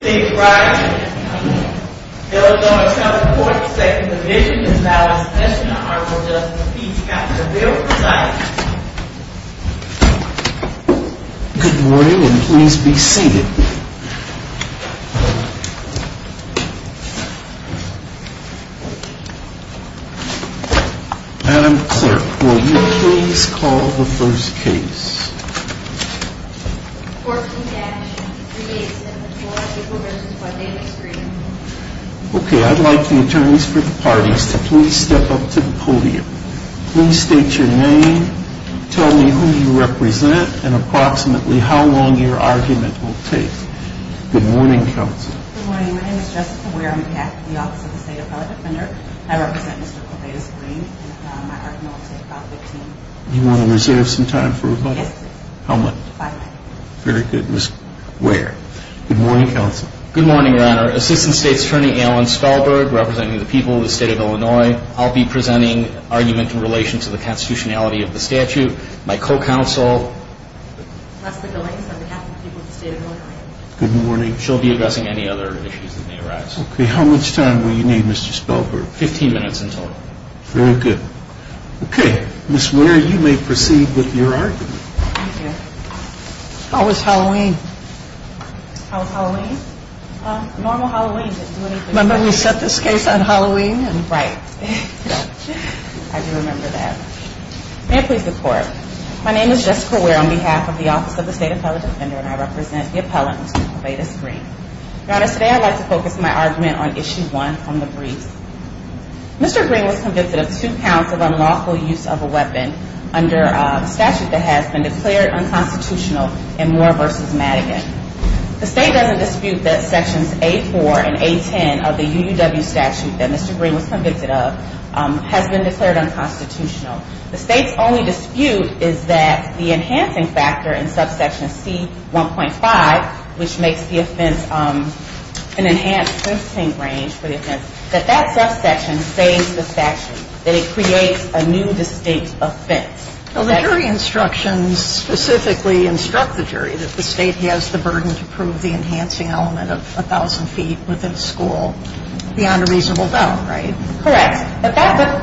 Good morning and please be seated. Madam Clerk, will you please call the first case? 14-387-4 April vs. Codavis Green Okay, I'd like the attorneys for the parties to please step up to the podium. Please state your name, tell me who you represent, and approximately how long your argument will take. Good morning, counsel. Good morning. My name is Jessica Ware. I'm with the Office of the State Appellate Defender. I represent Mr. Codavis Green and I acknowledge that he brought the team. You want to reserve some time for rebuttal? Yes, please. How much? Five minutes. Very good, Ms. Ware. Good morning, counsel. Good morning, Your Honor. Assistant State's Attorney Alan Spellberg representing the people of the state of Illinois. I'll be presenting argument in relation to the constitutionality of the statute. My co-counsel, Leslie Goings, on behalf of the people of the state of Illinois. Good morning. She'll be addressing any other issues that may arise. Okay, how much time will you need, Mr. Spellberg? Fifteen minutes in total. Very good. Okay, Ms. Ware, you may proceed with your argument. Thank you. How was Halloween? How was Halloween? Normal Halloween, didn't do anything special. Remember we set this case on Halloween? Right. I do remember that. May it please the Court, my name is Jessica Ware on behalf of the Office of the State Appellate Defender and I represent the appellant, Mr. Codavis Green. Your Honor, today I'd like to focus my argument on issue one from the briefs. Mr. Green was convicted of two counts of unlawful use of a weapon under a statute that has been declared unconstitutional in Moore v. Madigan. The state doesn't dispute that sections A4 and A10 of the UUW statute that Mr. Green was convicted of has been declared unconstitutional. The state's only dispute is that the enhancing factor in subsection C1.5, which makes the offense an enhanced sentencing range for the offense, that that subsection saves the statute, that it creates a new distinct offense. Well, the jury instructions specifically instruct the jury that the state has the burden to prove the enhancing element of 1,000 feet within a school beyond a reasonable doubt, right? Correct.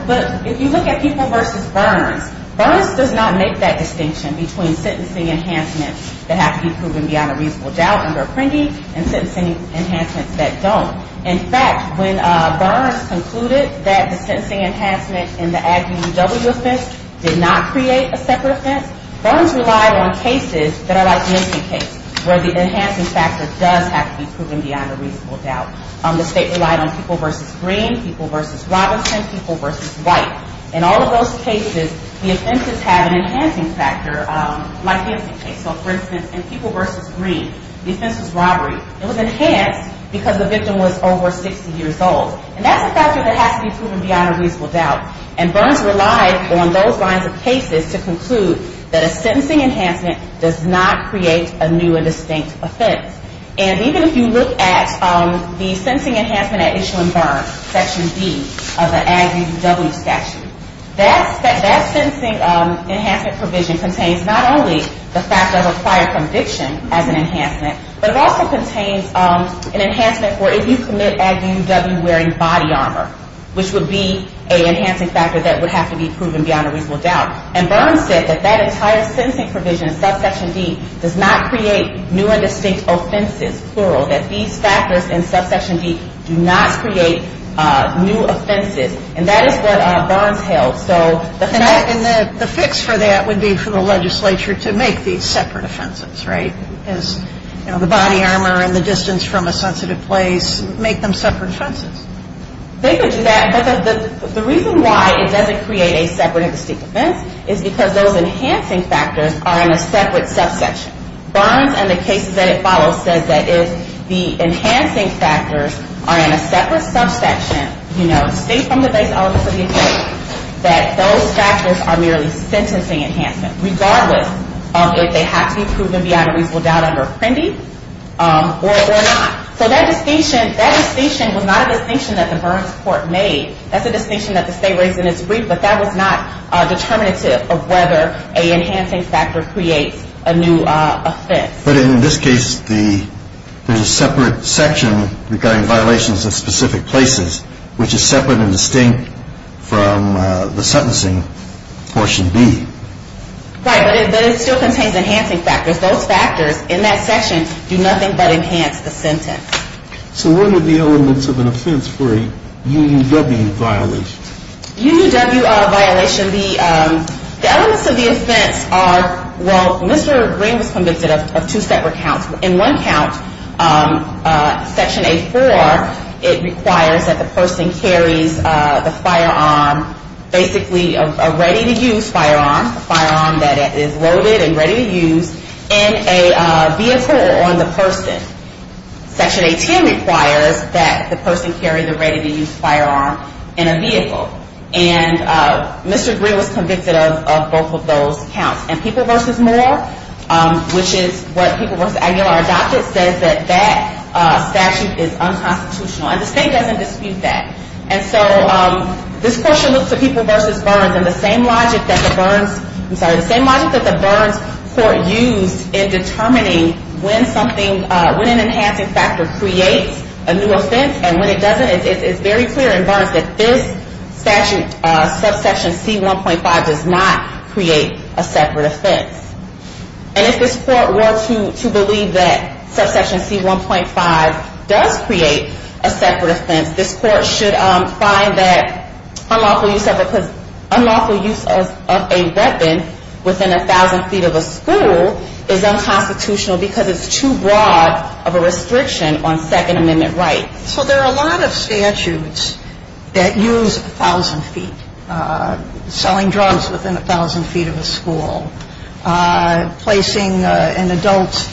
But if you look at people v. Burns, Burns does not make that distinction between sentencing enhancements that have to be proven beyond a reasonable doubt under Apprendi and sentencing enhancements that don't. In fact, when Burns concluded that the sentencing enhancement in the Aggie UUW offense did not create a separate offense, Burns relied on cases that are like the Enson case, where the enhancing factor does have to be proven beyond a reasonable doubt. The state relied on people v. Green, people v. Robinson, people v. White. In all of those cases, the offenses have an enhancing factor like the Enson case. So, for instance, in people v. Green, the offense was robbery. It was enhanced because the victim was over 60 years old. And that's a factor that has to be proven beyond a reasonable doubt. And Burns relied on those lines of cases to conclude that a sentencing enhancement does not create a new and distinct offense. And even if you look at the sentencing enhancement at Issue and Burn, Section D of the Aggie UUW statute, that sentencing enhancement provision contains not only the fact of a prior conviction as an enhancement, but it also contains an enhancement for if you commit Aggie UUW wearing body armor, which would be an enhancing factor that would have to be proven beyond a reasonable doubt. And Burns said that that entire sentencing provision in Subsection D does not create new and distinct offenses, plural, that these factors in Subsection D do not create new offenses. And that is what Burns held. And the fix for that would be for the legislature to make these separate offenses, right? Because, you know, the body armor and the distance from a sensitive place make them separate offenses. They could do that. But the reason why it doesn't create a separate and distinct offense is because those enhancing factors are in a separate subsection. Burns and the cases that it follows says that if the enhancing factors are in a separate subsection, you know, state from the base elements of the offense, that those factors are merely sentencing enhancement, regardless of if they have to be proven beyond a reasonable doubt under Apprendi or not. So that distinction was not a distinction that the Burns court made. That's a distinction that the state raised in its brief, but that was not determinative of whether an enhancing factor creates a new offense. But in this case, there's a separate section regarding violations of specific places, which is separate and distinct from the sentencing portion B. Right, but it still contains enhancing factors. Those factors in that section do nothing but enhance the sentence. So what are the elements of an offense for a UUW violation? UUW violation, the elements of the offense are, well, Mr. Green was convicted of two separate counts. In one count, Section A-4, it requires that the person carries the firearm, basically a ready-to-use firearm, a firearm that is loaded and ready to use, in a vehicle on the person. Section A-10 requires that the person carry the ready-to-use firearm in a vehicle. And Mr. Green was convicted of both of those counts. And People v. Moore, which is what People v. Aguilar adopted, says that that statute is unconstitutional. And the state doesn't dispute that. And so this question looks at People v. Burns, and the same logic that the Burns court used in determining when an enhancing factor creates a new offense and when it doesn't, it's very clear in Burns that this statute, subsection C-1.5, does not create a separate offense. And if this court were to believe that subsection C-1.5 does create a separate offense, this court should find that unlawful use of a weapon within a thousand feet of a school is unconstitutional because it's too broad of a restriction on Second Amendment rights. So there are a lot of statutes that use a thousand feet, selling drugs within a thousand feet of a school, placing an adult's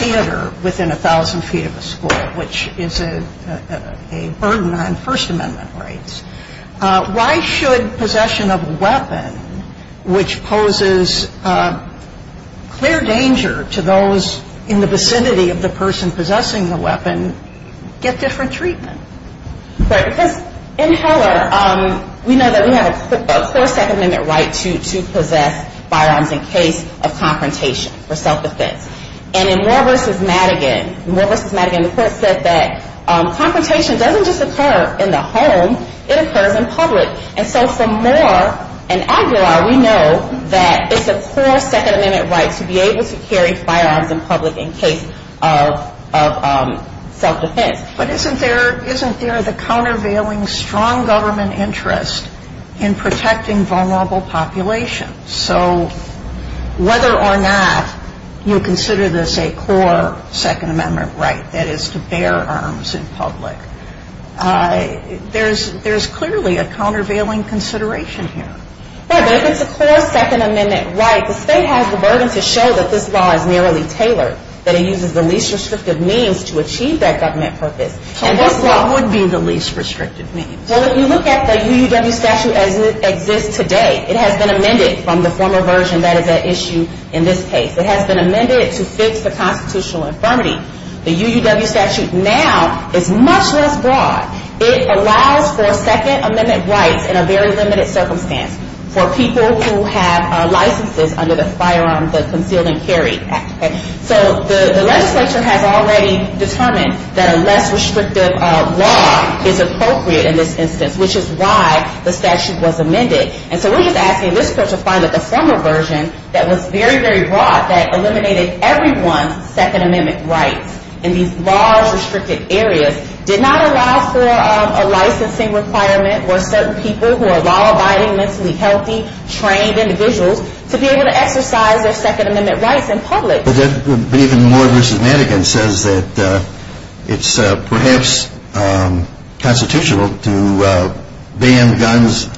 theater within a thousand feet of a school, which is a burden on First Amendment rights. Why should possession of a weapon, which poses clear danger to those in the vicinity of the person possessing the weapon, get different treatment? Right, because in Heller, we know that we have a core Second Amendment right to possess firearms in case of confrontation for self-defense. And in Moore v. Madigan, the court said that confrontation doesn't just occur in the home, it occurs in public. And so for Moore and Aguilar, we know that it's a core Second Amendment right to be able to carry firearms in public in case of self-defense. But isn't there the countervailing strong government interest in protecting vulnerable populations? So whether or not you consider this a core Second Amendment right, that is to bear arms in public, there's clearly a countervailing consideration here. Right, but if it's a core Second Amendment right, the state has the burden to show that this law is narrowly tailored, that it uses the least restrictive means to achieve that government purpose. So what would be the least restrictive means? Well, if you look at the UUW statute as it exists today, it has been amended from the former version. That is at issue in this case. It has been amended to fix the constitutional infirmity. The UUW statute now is much less broad. It allows for Second Amendment rights in a very limited circumstance for people who have licenses under the firearm, the Concealed and Carried Act. So the legislature has already determined that a less restrictive law is appropriate in this instance, which is why the statute was amended. And so we're just asking this court to find that the former version that was very, very broad that eliminated everyone's Second Amendment rights in these large, restricted areas did not allow for a licensing requirement for certain people who are law-abiding, mentally healthy, trained individuals to be able to exercise their Second Amendment rights in public. But even Moore v. Madigan says that it's perhaps constitutional to ban guns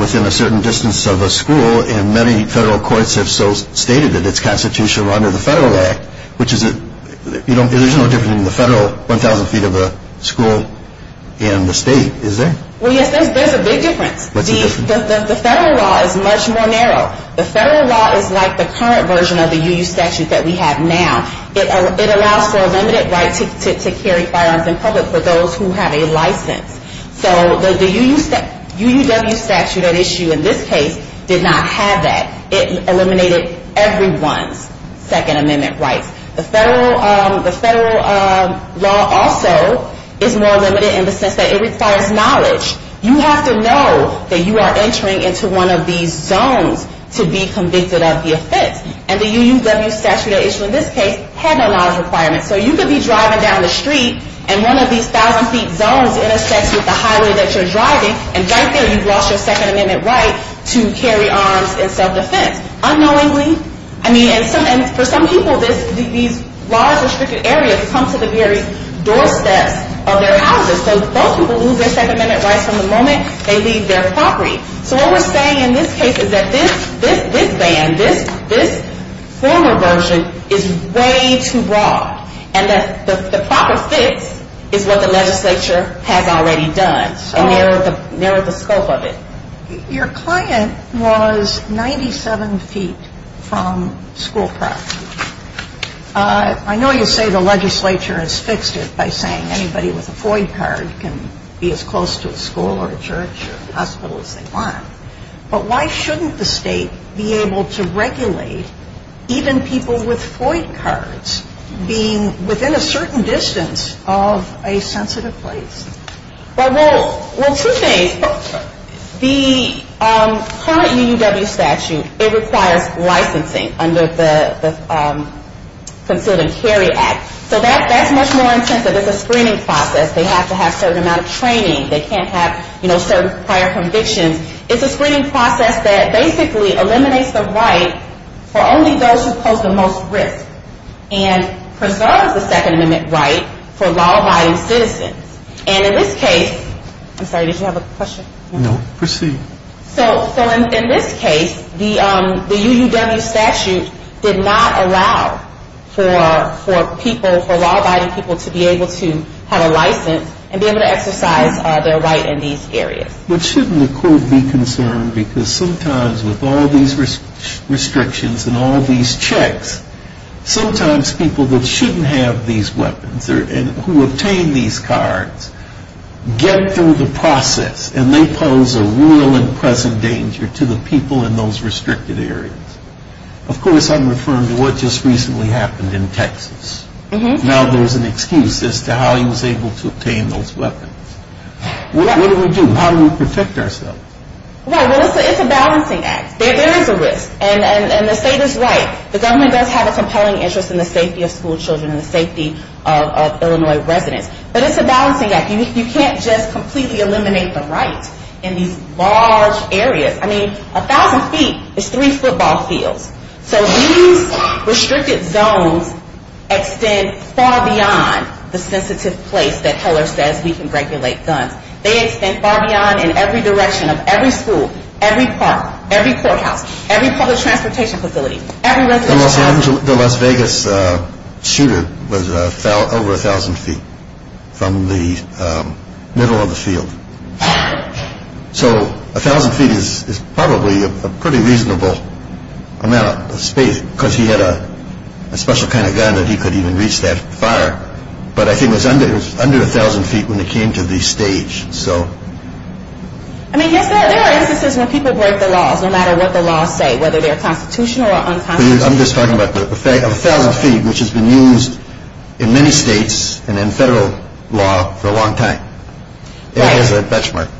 within a certain distance of a school, and many federal courts have so stated that it's constitutional under the Federal Act, which there's no difference between the federal 1,000 feet of a school and the state, is there? Well, yes, there's a big difference. What's the difference? The federal law is much more narrow. The federal law is like the current version of the UU statute that we have now. It allows for a limited right to carry firearms in public for those who have a license. So the UUW statute at issue in this case did not have that. It eliminated everyone's Second Amendment rights. The federal law also is more limited in the sense that it requires knowledge. You have to know that you are entering into one of these zones to be convicted of the offense, and the UUW statute at issue in this case had no knowledge requirements. So you could be driving down the street, and one of these 1,000 feet zones intersects with the highway that you're driving, and right there you've lost your Second Amendment right to carry arms in self-defense. Unknowingly, I mean, and for some people, these large restricted areas come to the very doorsteps of their houses. So those people lose their Second Amendment rights from the moment they leave their property. So what we're saying in this case is that this ban, this former version, is way too broad, and the proper fix is what the legislature has already done. And they narrowed the scope of it. Your client was 97 feet from school property. I know you say the legislature has fixed it by saying anybody with a FOID card can be as close to a school or a church or a hospital as they want. But why shouldn't the state be able to regulate even people with FOID cards being within a certain distance of a sensitive place? Well, two things. The current UUW statute, it requires licensing under the Concealed and Carried Act. So that's much more intensive. It's a screening process. They have to have a certain amount of training. They can't have certain prior convictions. It's a screening process that basically eliminates the right for only those who pose the most risk and preserves the Second Amendment right for law-abiding citizens. And in this case, I'm sorry, did you have a question? No, proceed. So in this case, the UUW statute did not allow for people, for law-abiding people to be able to have a license and be able to exercise their right in these areas. But shouldn't the court be concerned? Because sometimes with all these restrictions and all these checks, sometimes people that shouldn't have these weapons and who obtain these cards get through the process and they pose a real and present danger to the people in those restricted areas. Of course, I'm referring to what just recently happened in Texas. Now there's an excuse as to how he was able to obtain those weapons. What do we do? How do we protect ourselves? Well, it's a balancing act. There is a risk. And the state is right. The government does have a compelling interest in the safety of schoolchildren and the safety of Illinois residents. But it's a balancing act. You can't just completely eliminate the right in these large areas. I mean, a thousand feet is three football fields. So these restricted zones extend far beyond the sensitive place that Heller says we can regulate guns. They extend far beyond in every direction of every school, every park, every courthouse, every public transportation facility, every residential housing. The Las Vegas shooter fell over a thousand feet from the middle of the field. So a thousand feet is probably a pretty reasonable amount of space because he had a special kind of gun that he could even reach that far. But I think it was under a thousand feet when it came to the stage. I mean, yes, there are instances when people break the laws, no matter what the laws say, whether they're constitutional or unconstitutional. I'm just talking about the fact of a thousand feet, which has been used in many states and in federal law for a long time. It is a benchmark.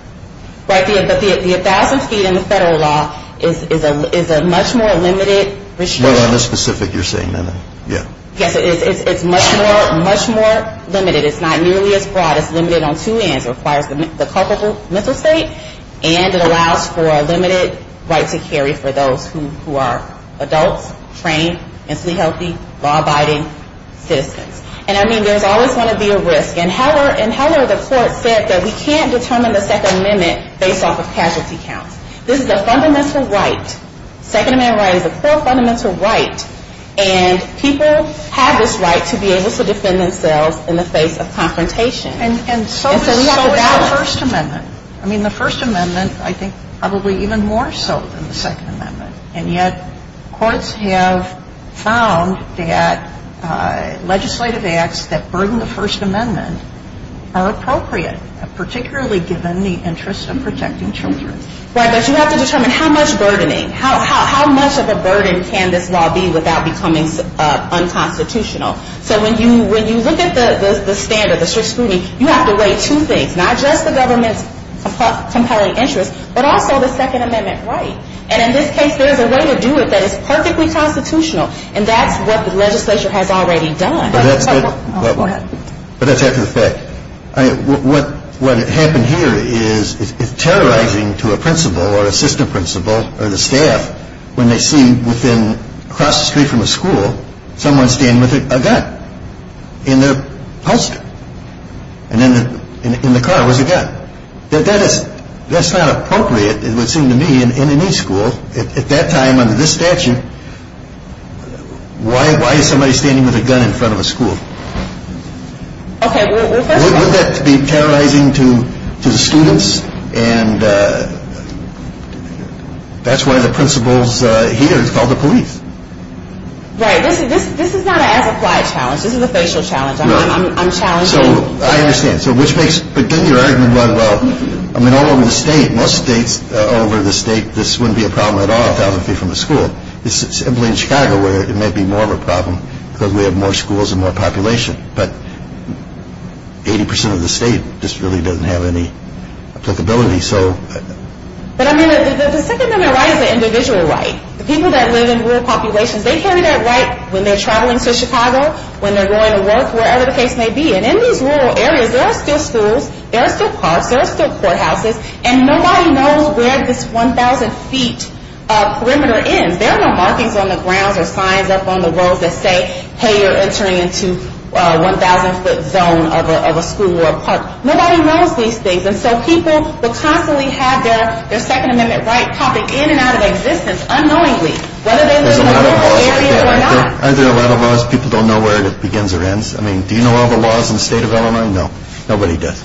Right, but the thousand feet in the federal law is a much more limited restriction. Well, on the specific you're saying then, yeah. Yes, it's much more limited. It's not nearly as broad. It's limited on two ends. It requires the culpable mental state, and it allows for a limited right to carry for those who are adults, trained, mentally healthy, law-abiding citizens. And, I mean, there's always going to be a risk. In Heller, the court said that we can't determine the Second Amendment based off of casualty counts. This is a fundamental right. Second Amendment right is a core fundamental right, and people have this right to be able to defend themselves in the face of confrontation. And so is the First Amendment. I mean, the First Amendment, I think, probably even more so than the Second Amendment. And yet courts have found that legislative acts that burden the First Amendment are appropriate, particularly given the interest of protecting children. Right, but you have to determine how much burdening, how much of a burden can this law be without becoming unconstitutional? So when you look at the standard, the strict scrutiny, you have to weigh two things, not just the government's compelling interest, but also the Second Amendment right. And in this case, there is a way to do it that is perfectly constitutional, and that's what the legislature has already done. Go ahead. But that's after the fact. What happened here is it's terrorizing to a principal or assistant principal or the staff when they see within, across the street from a school, someone standing with a gun in their poster. And in the car was a gun. That's not appropriate, it would seem to me, in any school. At that time, under this statute, why is somebody standing with a gun in front of a school? Would that be terrorizing to the students? And that's why the principal here is called the police. Right, this is not an as-applied challenge. This is a facial challenge. I'm challenging. So I understand. So which makes, again, your argument about, well, I mean, all over the state, most states all over the state, this wouldn't be a problem at all, a thousand feet from a school. It's simply in Chicago where it might be more of a problem because we have more schools and more population. But 80 percent of the state just really doesn't have any applicability. But, I mean, the Second Amendment right is an individual right. The people that live in rural populations, they carry that right when they're traveling to Chicago, when they're going to work, wherever the case may be. And in these rural areas, there are still schools, there are still parks, there are still courthouses, and nobody knows where this 1,000 feet perimeter ends. There are no markings on the grounds or signs up on the roads that say, hey, you're entering into 1,000-foot zone of a school or a park. Nobody knows these things. And so people will constantly have their Second Amendment right popping in and out of existence unknowingly, whether they live in a rural area or not. Are there a lot of laws people don't know where it begins or ends? I mean, do you know all the laws in the state of Illinois? No, nobody does.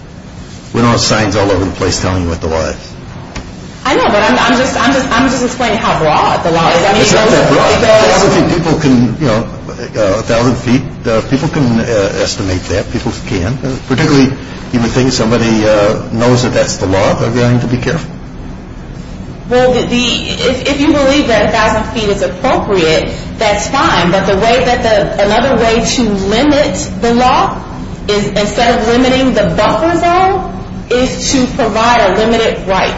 We don't have signs all over the place telling you what the law is. I know, but I'm just explaining how broad the law is. It's not that broad. 1,000 feet, people can, you know, 1,000 feet, people can estimate that. People can. Particularly, you would think somebody knows that that's the law, they're going to be careful. Well, if you believe that 1,000 feet is appropriate, that's fine. But another way to limit the law, instead of limiting the buffer zone, is to provide a limited right.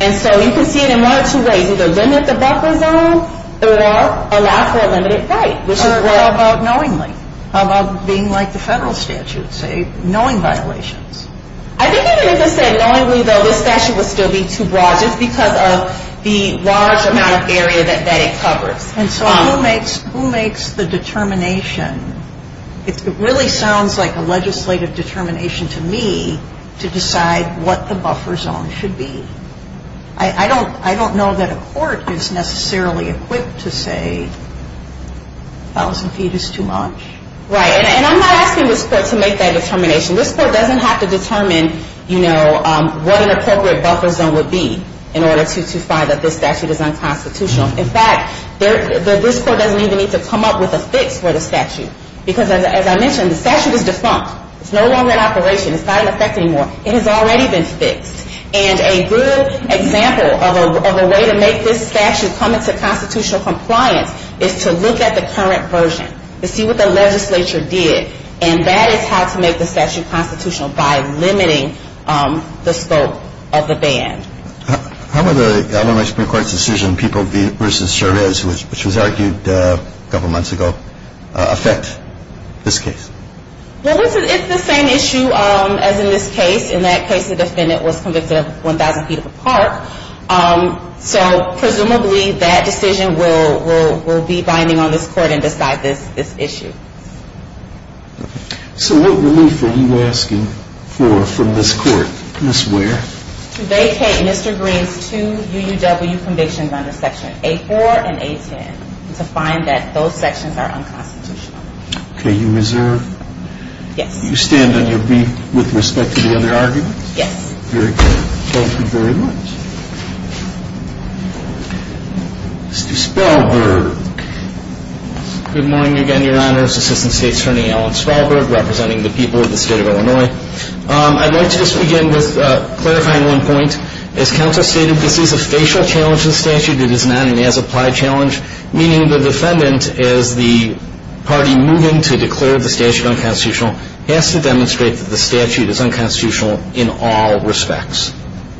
And so you can see it in one of two ways, either limit the buffer zone or allow for a limited right. How about knowingly? How about being like the federal statute, say, knowing violations? I think even if it said knowingly, though, this statute would still be too broad just because of the large amount of area that it covers. And so who makes the determination? It really sounds like a legislative determination to me to decide what the buffer zone should be. I don't know that a court is necessarily equipped to say 1,000 feet is too much. Right, and I'm not asking this court to make that determination. This court doesn't have to determine, you know, what an appropriate buffer zone would be in order to find that this statute is unconstitutional. In fact, this court doesn't even need to come up with a fix for the statute. Because as I mentioned, the statute is defunct. It's no longer in operation. It's not in effect anymore. It has already been fixed. And a good example of a way to make this statute come into constitutional compliance is to look at the current version. To see what the legislature did. And that is how to make the statute constitutional by limiting the scope of the ban. How would the Alabama Supreme Court's decision, People v. Chavez, which was argued a couple months ago, affect this case? Well, it's the same issue as in this case. In that case, the defendant was convicted of 1,000 feet of a park. So presumably that decision will be binding on this court and decide this issue. So what relief are you asking for from this court? To vacate Mr. Green's two UUW convictions under Section A4 and A10. To find that those sections are unconstitutional. Okay, you reserve? Yes. You stand on your beat with respect to the other arguments? Yes. Very good. Thank you very much. Mr. Spalberg. Good morning again, Your Honors. Assistant State Attorney Alan Spalberg representing the people of the state of Illinois. I'd like to just begin with clarifying one point. As counsel stated, this is a facial challenge to the statute. It is not an as-applied challenge. Meaning the defendant, as the party moving to declare the statute unconstitutional, has to demonstrate that the statute is unconstitutional in all respects.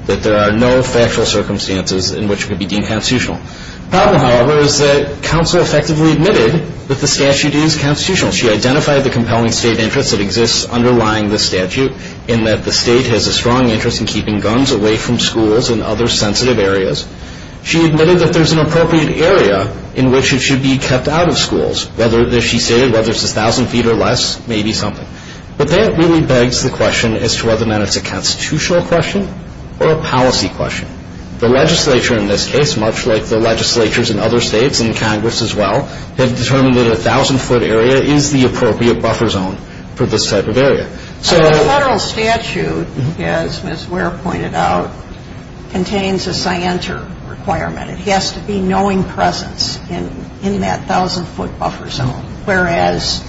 That there are no factual circumstances in which it could be deemed constitutional. The problem, however, is that counsel effectively admitted that the statute is constitutional. She identified the compelling state interest that exists underlying the statute in that the state has a strong interest in keeping guns away from schools and other sensitive areas. She admitted that there's an appropriate area in which it should be kept out of schools. Whether, as she stated, whether it's 1,000 feet or less, maybe something. But that really begs the question as to whether or not it's a constitutional question or a policy question. The legislature in this case, much like the legislatures in other states and Congress as well, have determined that a 1,000-foot area is the appropriate buffer zone for this type of area. The federal statute, as Ms. Ware pointed out, contains a scienter requirement. It has to be knowing presence in that 1,000-foot buffer zone. Whereas,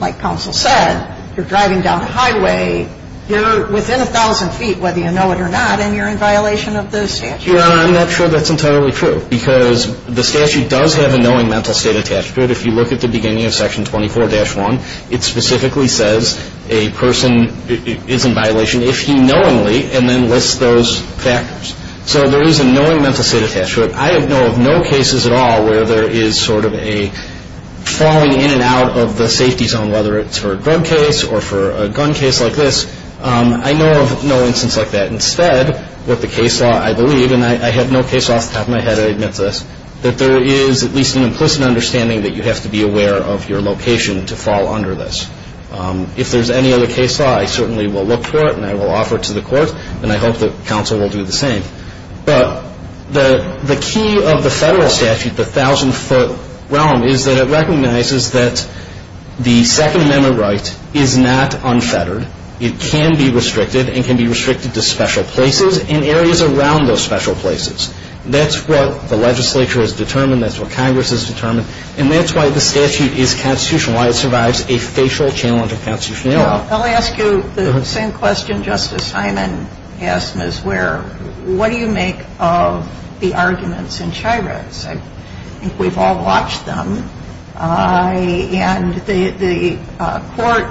like counsel said, you're driving down a highway, you're within 1,000 feet, whether you know it or not, and you're in violation of the statute. Your Honor, I'm not sure that's entirely true. Because the statute does have a knowing mental state attached to it. If you look at the beginning of Section 24-1, it specifically says a person is in violation, if he knowingly, and then lists those factors. So there is a knowing mental state attached to it. I know of no cases at all where there is sort of a falling in and out of the safety zone, whether it's for a drug case or for a gun case like this. I know of no instance like that. Instead, what the case law, I believe, and I have no case law off the top of my head to admit to this, that there is at least an implicit understanding that you have to be aware of your location to fall under this. If there's any other case law, I certainly will look for it, and I will offer it to the court, and I hope that counsel will do the same. But the key of the federal statute, the 1,000-foot realm, is that it recognizes that the Second Amendment right is not unfettered. It can be restricted, and can be restricted to special places and areas around those special places. That's what the legislature has determined. That's what Congress has determined. And that's why the statute is constitutional, why it survives a facial challenge of constitutional error. I'll ask you the same question Justice Hyman asked Ms. Ware. What do you make of the arguments in Chirut's? I think we've all watched them, and the court,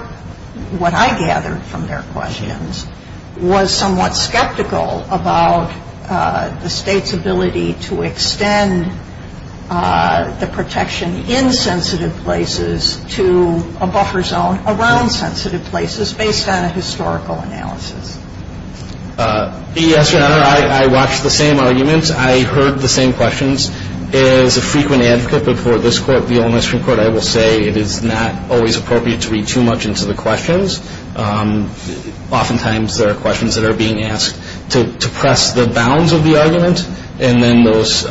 what I gathered from their questions, was somewhat skeptical about the State's ability to extend the protection in sensitive places to a buffer zone around sensitive places based on a historical analysis. Yes, Your Honor, I watched the same arguments. I heard the same questions. As a frequent advocate before this Court, the Ole Miss Supreme Court, I will say it is not always appropriate to read too much into the questions. Oftentimes there are questions that are being asked to press the bounds of the argument, and then those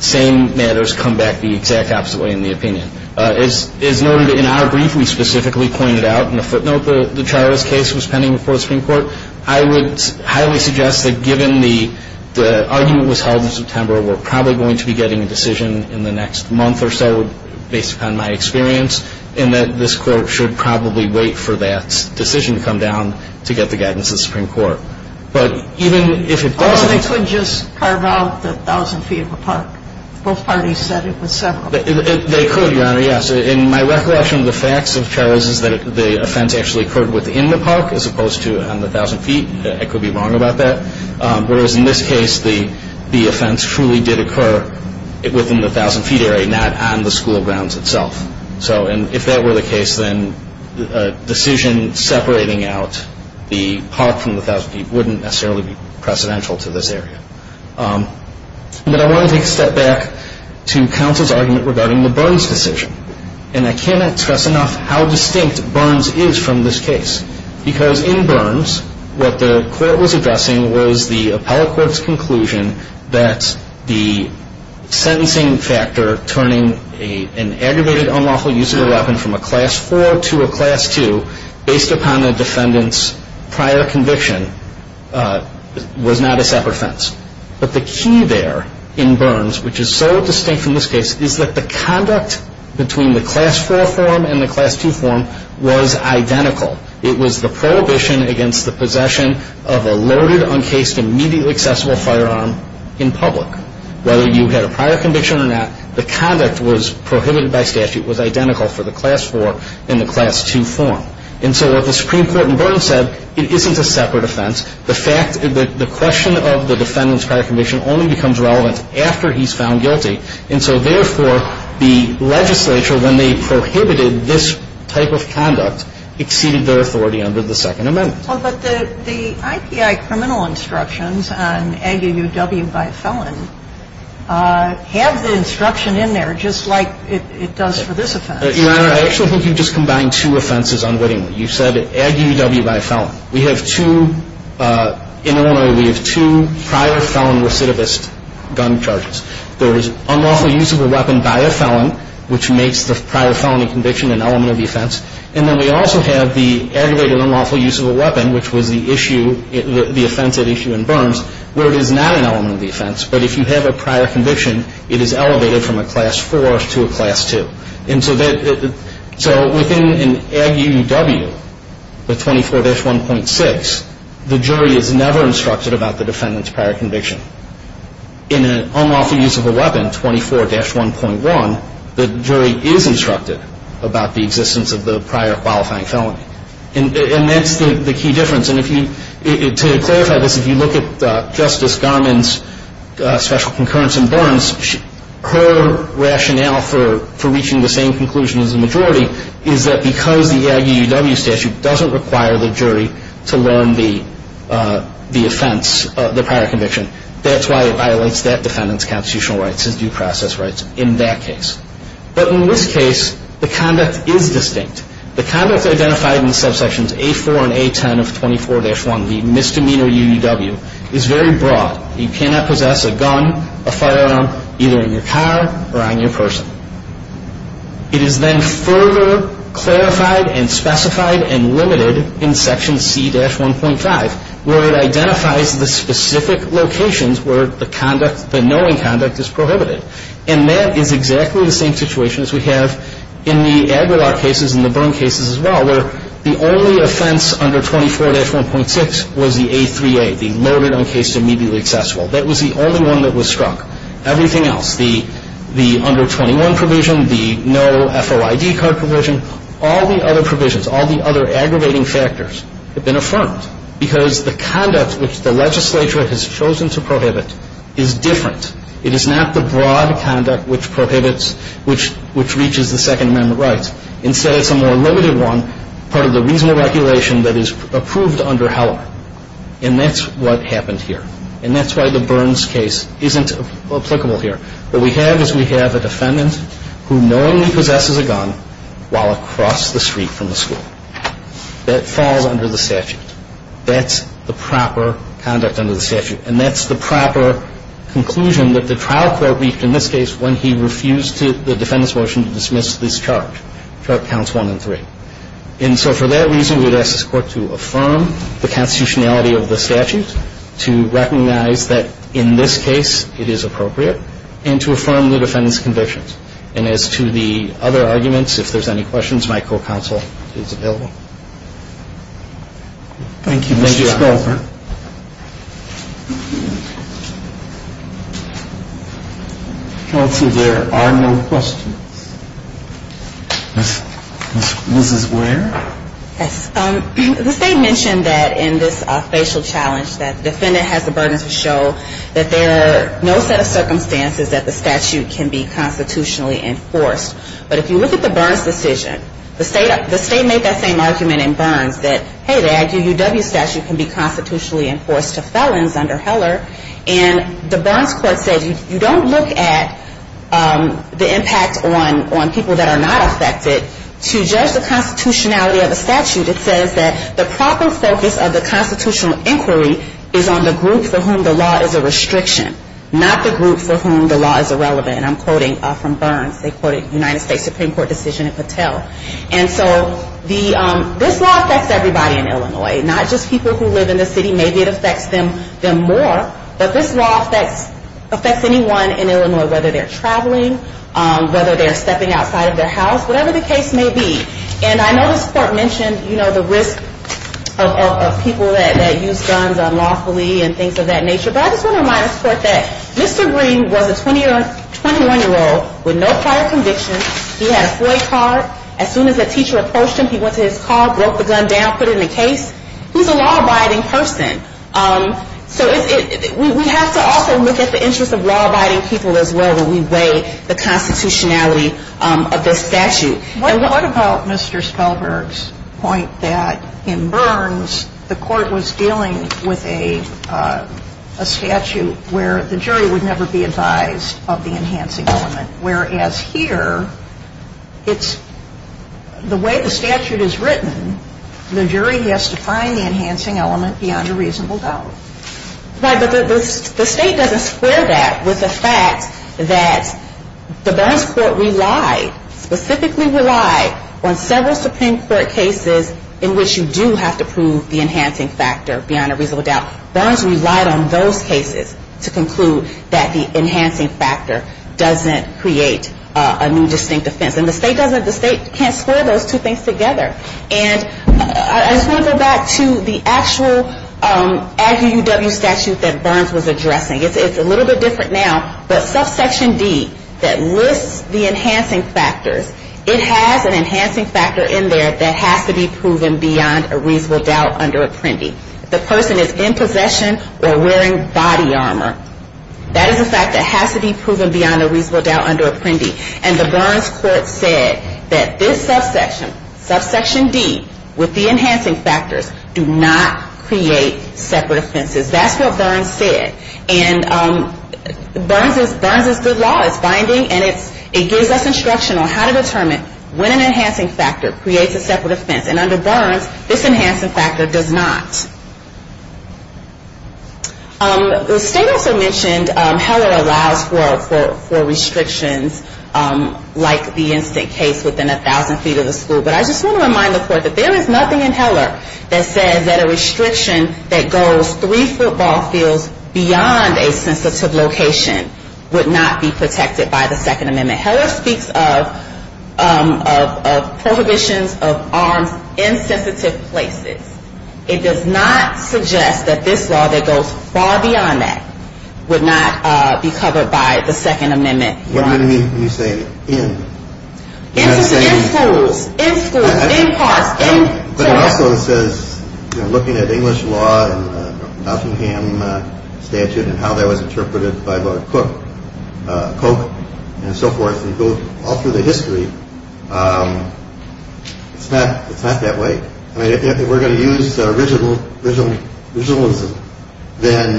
same matters come back the exact opposite way in the opinion. As noted in our brief, we specifically pointed out, and a footnote, the Chirut's case was pending before the Supreme Court. I would highly suggest that given the argument was held in September, we're probably going to be getting a decision in the next month or so, based upon my experience, in that this Court should probably wait for that decision to come down to get the guidance of the Supreme Court. But even if it doesn't... Or they could just carve out the 1,000 feet of a park. Both parties said it was several. They could, Your Honor, yes. And my recollection of the facts of Chirut's is that the offense actually occurred within the park, as opposed to on the 1,000 feet. I could be wrong about that. Whereas in this case, the offense truly did occur within the 1,000 feet area, not on the school grounds itself. So if that were the case, then a decision separating out the park from the 1,000 feet wouldn't necessarily be precedential to this area. But I want to take a step back to counsel's argument regarding the Burns decision. And I cannot stress enough how distinct Burns is from this case. Because in Burns, what the Court was addressing was the appellate court's conclusion that the sentencing factor turning an aggravated unlawful use of a weapon from a Class 4 to a Class 2, based upon the defendant's prior conviction, was not a separate offense. But the key there in Burns, which is so distinct from this case, is that the conduct between the Class 4 form and the Class 2 form was identical. It was the prohibition against the possession of a loaded, uncased, immediately accessible firearm in public. Whether you had a prior conviction or not, the conduct was prohibited by statute, was identical for the Class 4 and the Class 2 form. And so what the Supreme Court in Burns said, it isn't a separate offense. The question of the defendant's prior conviction only becomes relevant after he's found guilty. And so therefore, the legislature, when they prohibited this type of conduct, exceeded their authority under the Second Amendment. Well, but the IPI criminal instructions on ag-u-w by felon have the instruction in there just like it does for this offense. Your Honor, I actually think you've just combined two offenses unwittingly. You said ag-u-w by felon. We have two – in Illinois, we have two prior felon recidivist gun charges. There is unlawful use of a weapon by a felon, which makes the prior felony conviction an element of the offense. And then we also have the aggravated unlawful use of a weapon, which was the issue – the offense at issue in Burns, where it is not an element of the offense. But if you have a prior conviction, it is elevated from a Class 4 to a Class 2. And so that – so within an ag-u-w, the 24-1.6, the jury is never instructed about the defendant's prior conviction. In an unlawful use of a weapon, 24-1.1, the jury is instructed about the existence of the prior qualifying felony. And that's the key difference. And if you – to clarify this, if you look at Justice Garmon's special concurrence in Burns, her rationale for reaching the same conclusion as the majority is that because the ag-u-w statute doesn't require the jury to learn the offense – the prior conviction. That's why it violates that defendant's constitutional rights, his due process rights in that case. But in this case, the conduct is distinct. The conduct identified in subsections A4 and A10 of 24-1, the misdemeanor u-u-w, is very broad. You cannot possess a gun, a firearm, either in your car or on your person. It is then further clarified and specified and limited in Section C-1.5, where it identifies the specific locations where the conduct – the knowing conduct is prohibited. And that is exactly the same situation as we have in the ag-u-w cases and the Burns cases as well, where the only offense under 24-1.6 was the A3A, the loaded-on case immediately accessible. That was the only one that was struck. Everything else, the – the under 21 provision, the no FOID card provision, all the other provisions, all the other aggravating factors have been affirmed because the conduct which the legislature has chosen to prohibit is different. It is not the broad conduct which prohibits – which – which reaches the Second Amendment rights. Instead, it's a more limited one, part of the reasonable regulation that is approved under Heller. And that's what happened here. And that's why the Burns case isn't applicable here. What we have is we have a defendant who knowingly possesses a gun while across the street from the school. That falls under the statute. That's the proper conduct under the statute. And that's the proper conclusion that the trial court reached in this case when he refused to – the defendant's motion to dismiss this chart. Chart counts one and three. And so for that reason, we would ask this Court to affirm the constitutionality of the statute, to recognize that in this case it is appropriate, and to affirm the defendant's convictions. And as to the other arguments, if there's any questions, my co-counsel is available. Thank you. Thank you, Your Honor. Counsel, there are no questions. Mrs. Ware? Yes. The State mentioned that in this facial challenge that the defendant has the burden to show that there are no set of circumstances that the statute can be constitutionally enforced. But if you look at the Burns decision, the State made that same argument in Burns that, hey, the IUW statute can be constitutionally enforced to felons under Heller. And the Burns Court said you don't look at the impact on people that are not affected to judge the constitutionality of the statute. It says that the proper focus of the constitutional inquiry is on the group for whom the law is a restriction, not the group for whom the law is irrelevant. And I'm quoting from Burns. They quoted United States Supreme Court decision in Patel. And so this law affects everybody in Illinois, not just people who live in the city. Maybe it affects them more. But this law affects anyone in Illinois, whether they're traveling, whether they're stepping outside of their house. Whatever the case may be. And I know this Court mentioned, you know, the risk of people that use guns unlawfully and things of that nature. But I just want to remind this Court that Mr. Green was a 21-year-old with no prior conviction. He had a FOIA card. As soon as the teacher approached him, he went to his car, broke the gun down, put it in the case. He's a law-abiding person. So we have to also look at the interests of law-abiding people as well when we weigh the constitutionality of this statute. And what about Mr. Spellberg's point that in Burns, the Court was dealing with a statute where the jury would never be advised of the enhancing element, whereas here it's the way the statute is written, the jury has to find the enhancing element beyond a reasonable doubt. Right, but the State doesn't square that with the fact that the Burns Court relied, specifically relied, on several Supreme Court cases in which you do have to prove the enhancing factor beyond a reasonable doubt. Burns relied on those cases to conclude that the enhancing factor doesn't create a new distinct offense. And the State doesn't, the State can't square those two things together. And I just want to go back to the actual ADDUW statute that Burns was addressing. It's a little bit different now, but subsection D that lists the enhancing factors, it has an enhancing factor in there that has to be proven beyond a reasonable doubt under Apprendi. The person is in possession or wearing body armor. That is a fact that has to be proven beyond a reasonable doubt under Apprendi. And the Burns Court said that this subsection, subsection D, with the enhancing factors, do not create separate offenses. That's what Burns said. And Burns is good law. It's binding and it gives us instruction on how to determine when an enhancing factor creates a separate offense. And under Burns, this enhancing factor does not. The State also mentioned Heller allows for restrictions like the instant case within a thousand feet of the school. But I just want to remind the Court that there is nothing in Heller that says that a restriction that goes three football fields beyond a sensitive location would not be protected by the Second Amendment. Heller speaks of prohibitions of arms in sensitive places. It does not suggest that this law that goes far beyond that would not be covered by the Second Amendment. What do you mean when you say in? In schools, in schools, in parks, in towns. But it also says looking at English law and the Nottingham statute and how that was interpreted by Lord Coke and so forth, and go all through the history, it's not that way. If we're going to use originalism, then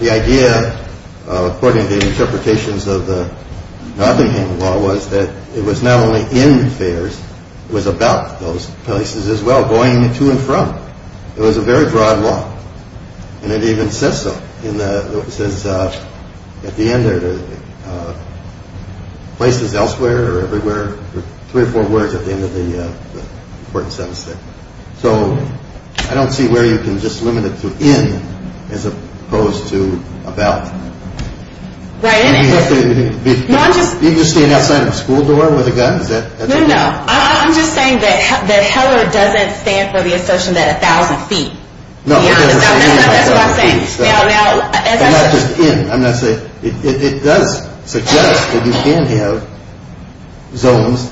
the idea, according to the interpretations of the Nottingham law, was that it was not only in fairs, it was about those places as well, going to and from. It was a very broad law. And it even says so. It says at the end there, places elsewhere or everywhere, three or four words at the end of the important sentence there. So I don't see where you can just limit it to in as opposed to about. Right. You mean just staying outside of a school door with a gun? No, no. I'm just saying that Heller doesn't stand for the assertion that a thousand feet. No. That's what I'm saying. I'm not just in. It does suggest that you can have zones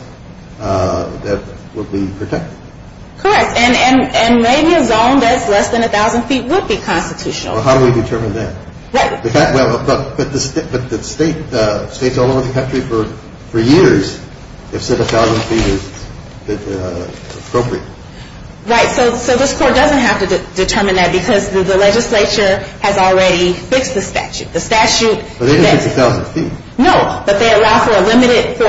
that would be protected. Correct. And maybe a zone that's less than a thousand feet would be constitutional. Well, how do we determine that? Right. But the states all over the country for years have said a thousand feet is appropriate. Right. So this court doesn't have to determine that because the legislature has already fixed the statute. The statute. But they didn't fix a thousand feet. No. But they allow for a limited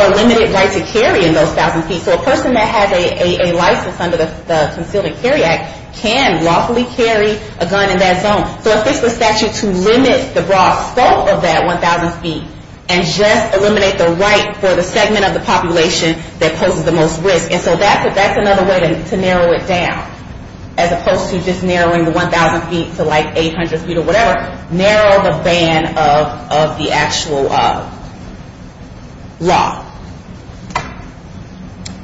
right to carry in those thousand feet. So a person that has a license under the Concealed and Carry Act can lawfully carry a gun in that zone. So it fixed the statute to limit the broad scope of that 1,000 feet and just eliminate the right for the segment of the population that poses the most risk. And so that's another way to narrow it down as opposed to just narrowing the 1,000 feet to, like, 800 feet or whatever. Narrow the band of the actual law.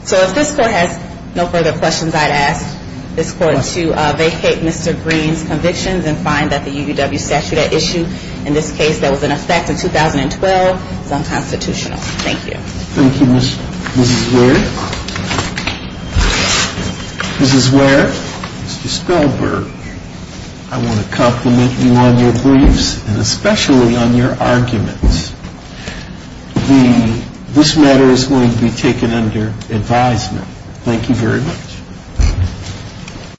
So if this court has no further questions, I'd ask this court to vacate Mr. Green's convictions and find that the UW statute at issue in this case that was in effect in 2012 is unconstitutional. Thank you. Thank you, Mrs. Ware. Mrs. Ware, Mr. Spellberg, I want to compliment you on your beliefs and especially on your arguments. This matter is going to be taken under advisement. Thank you very much.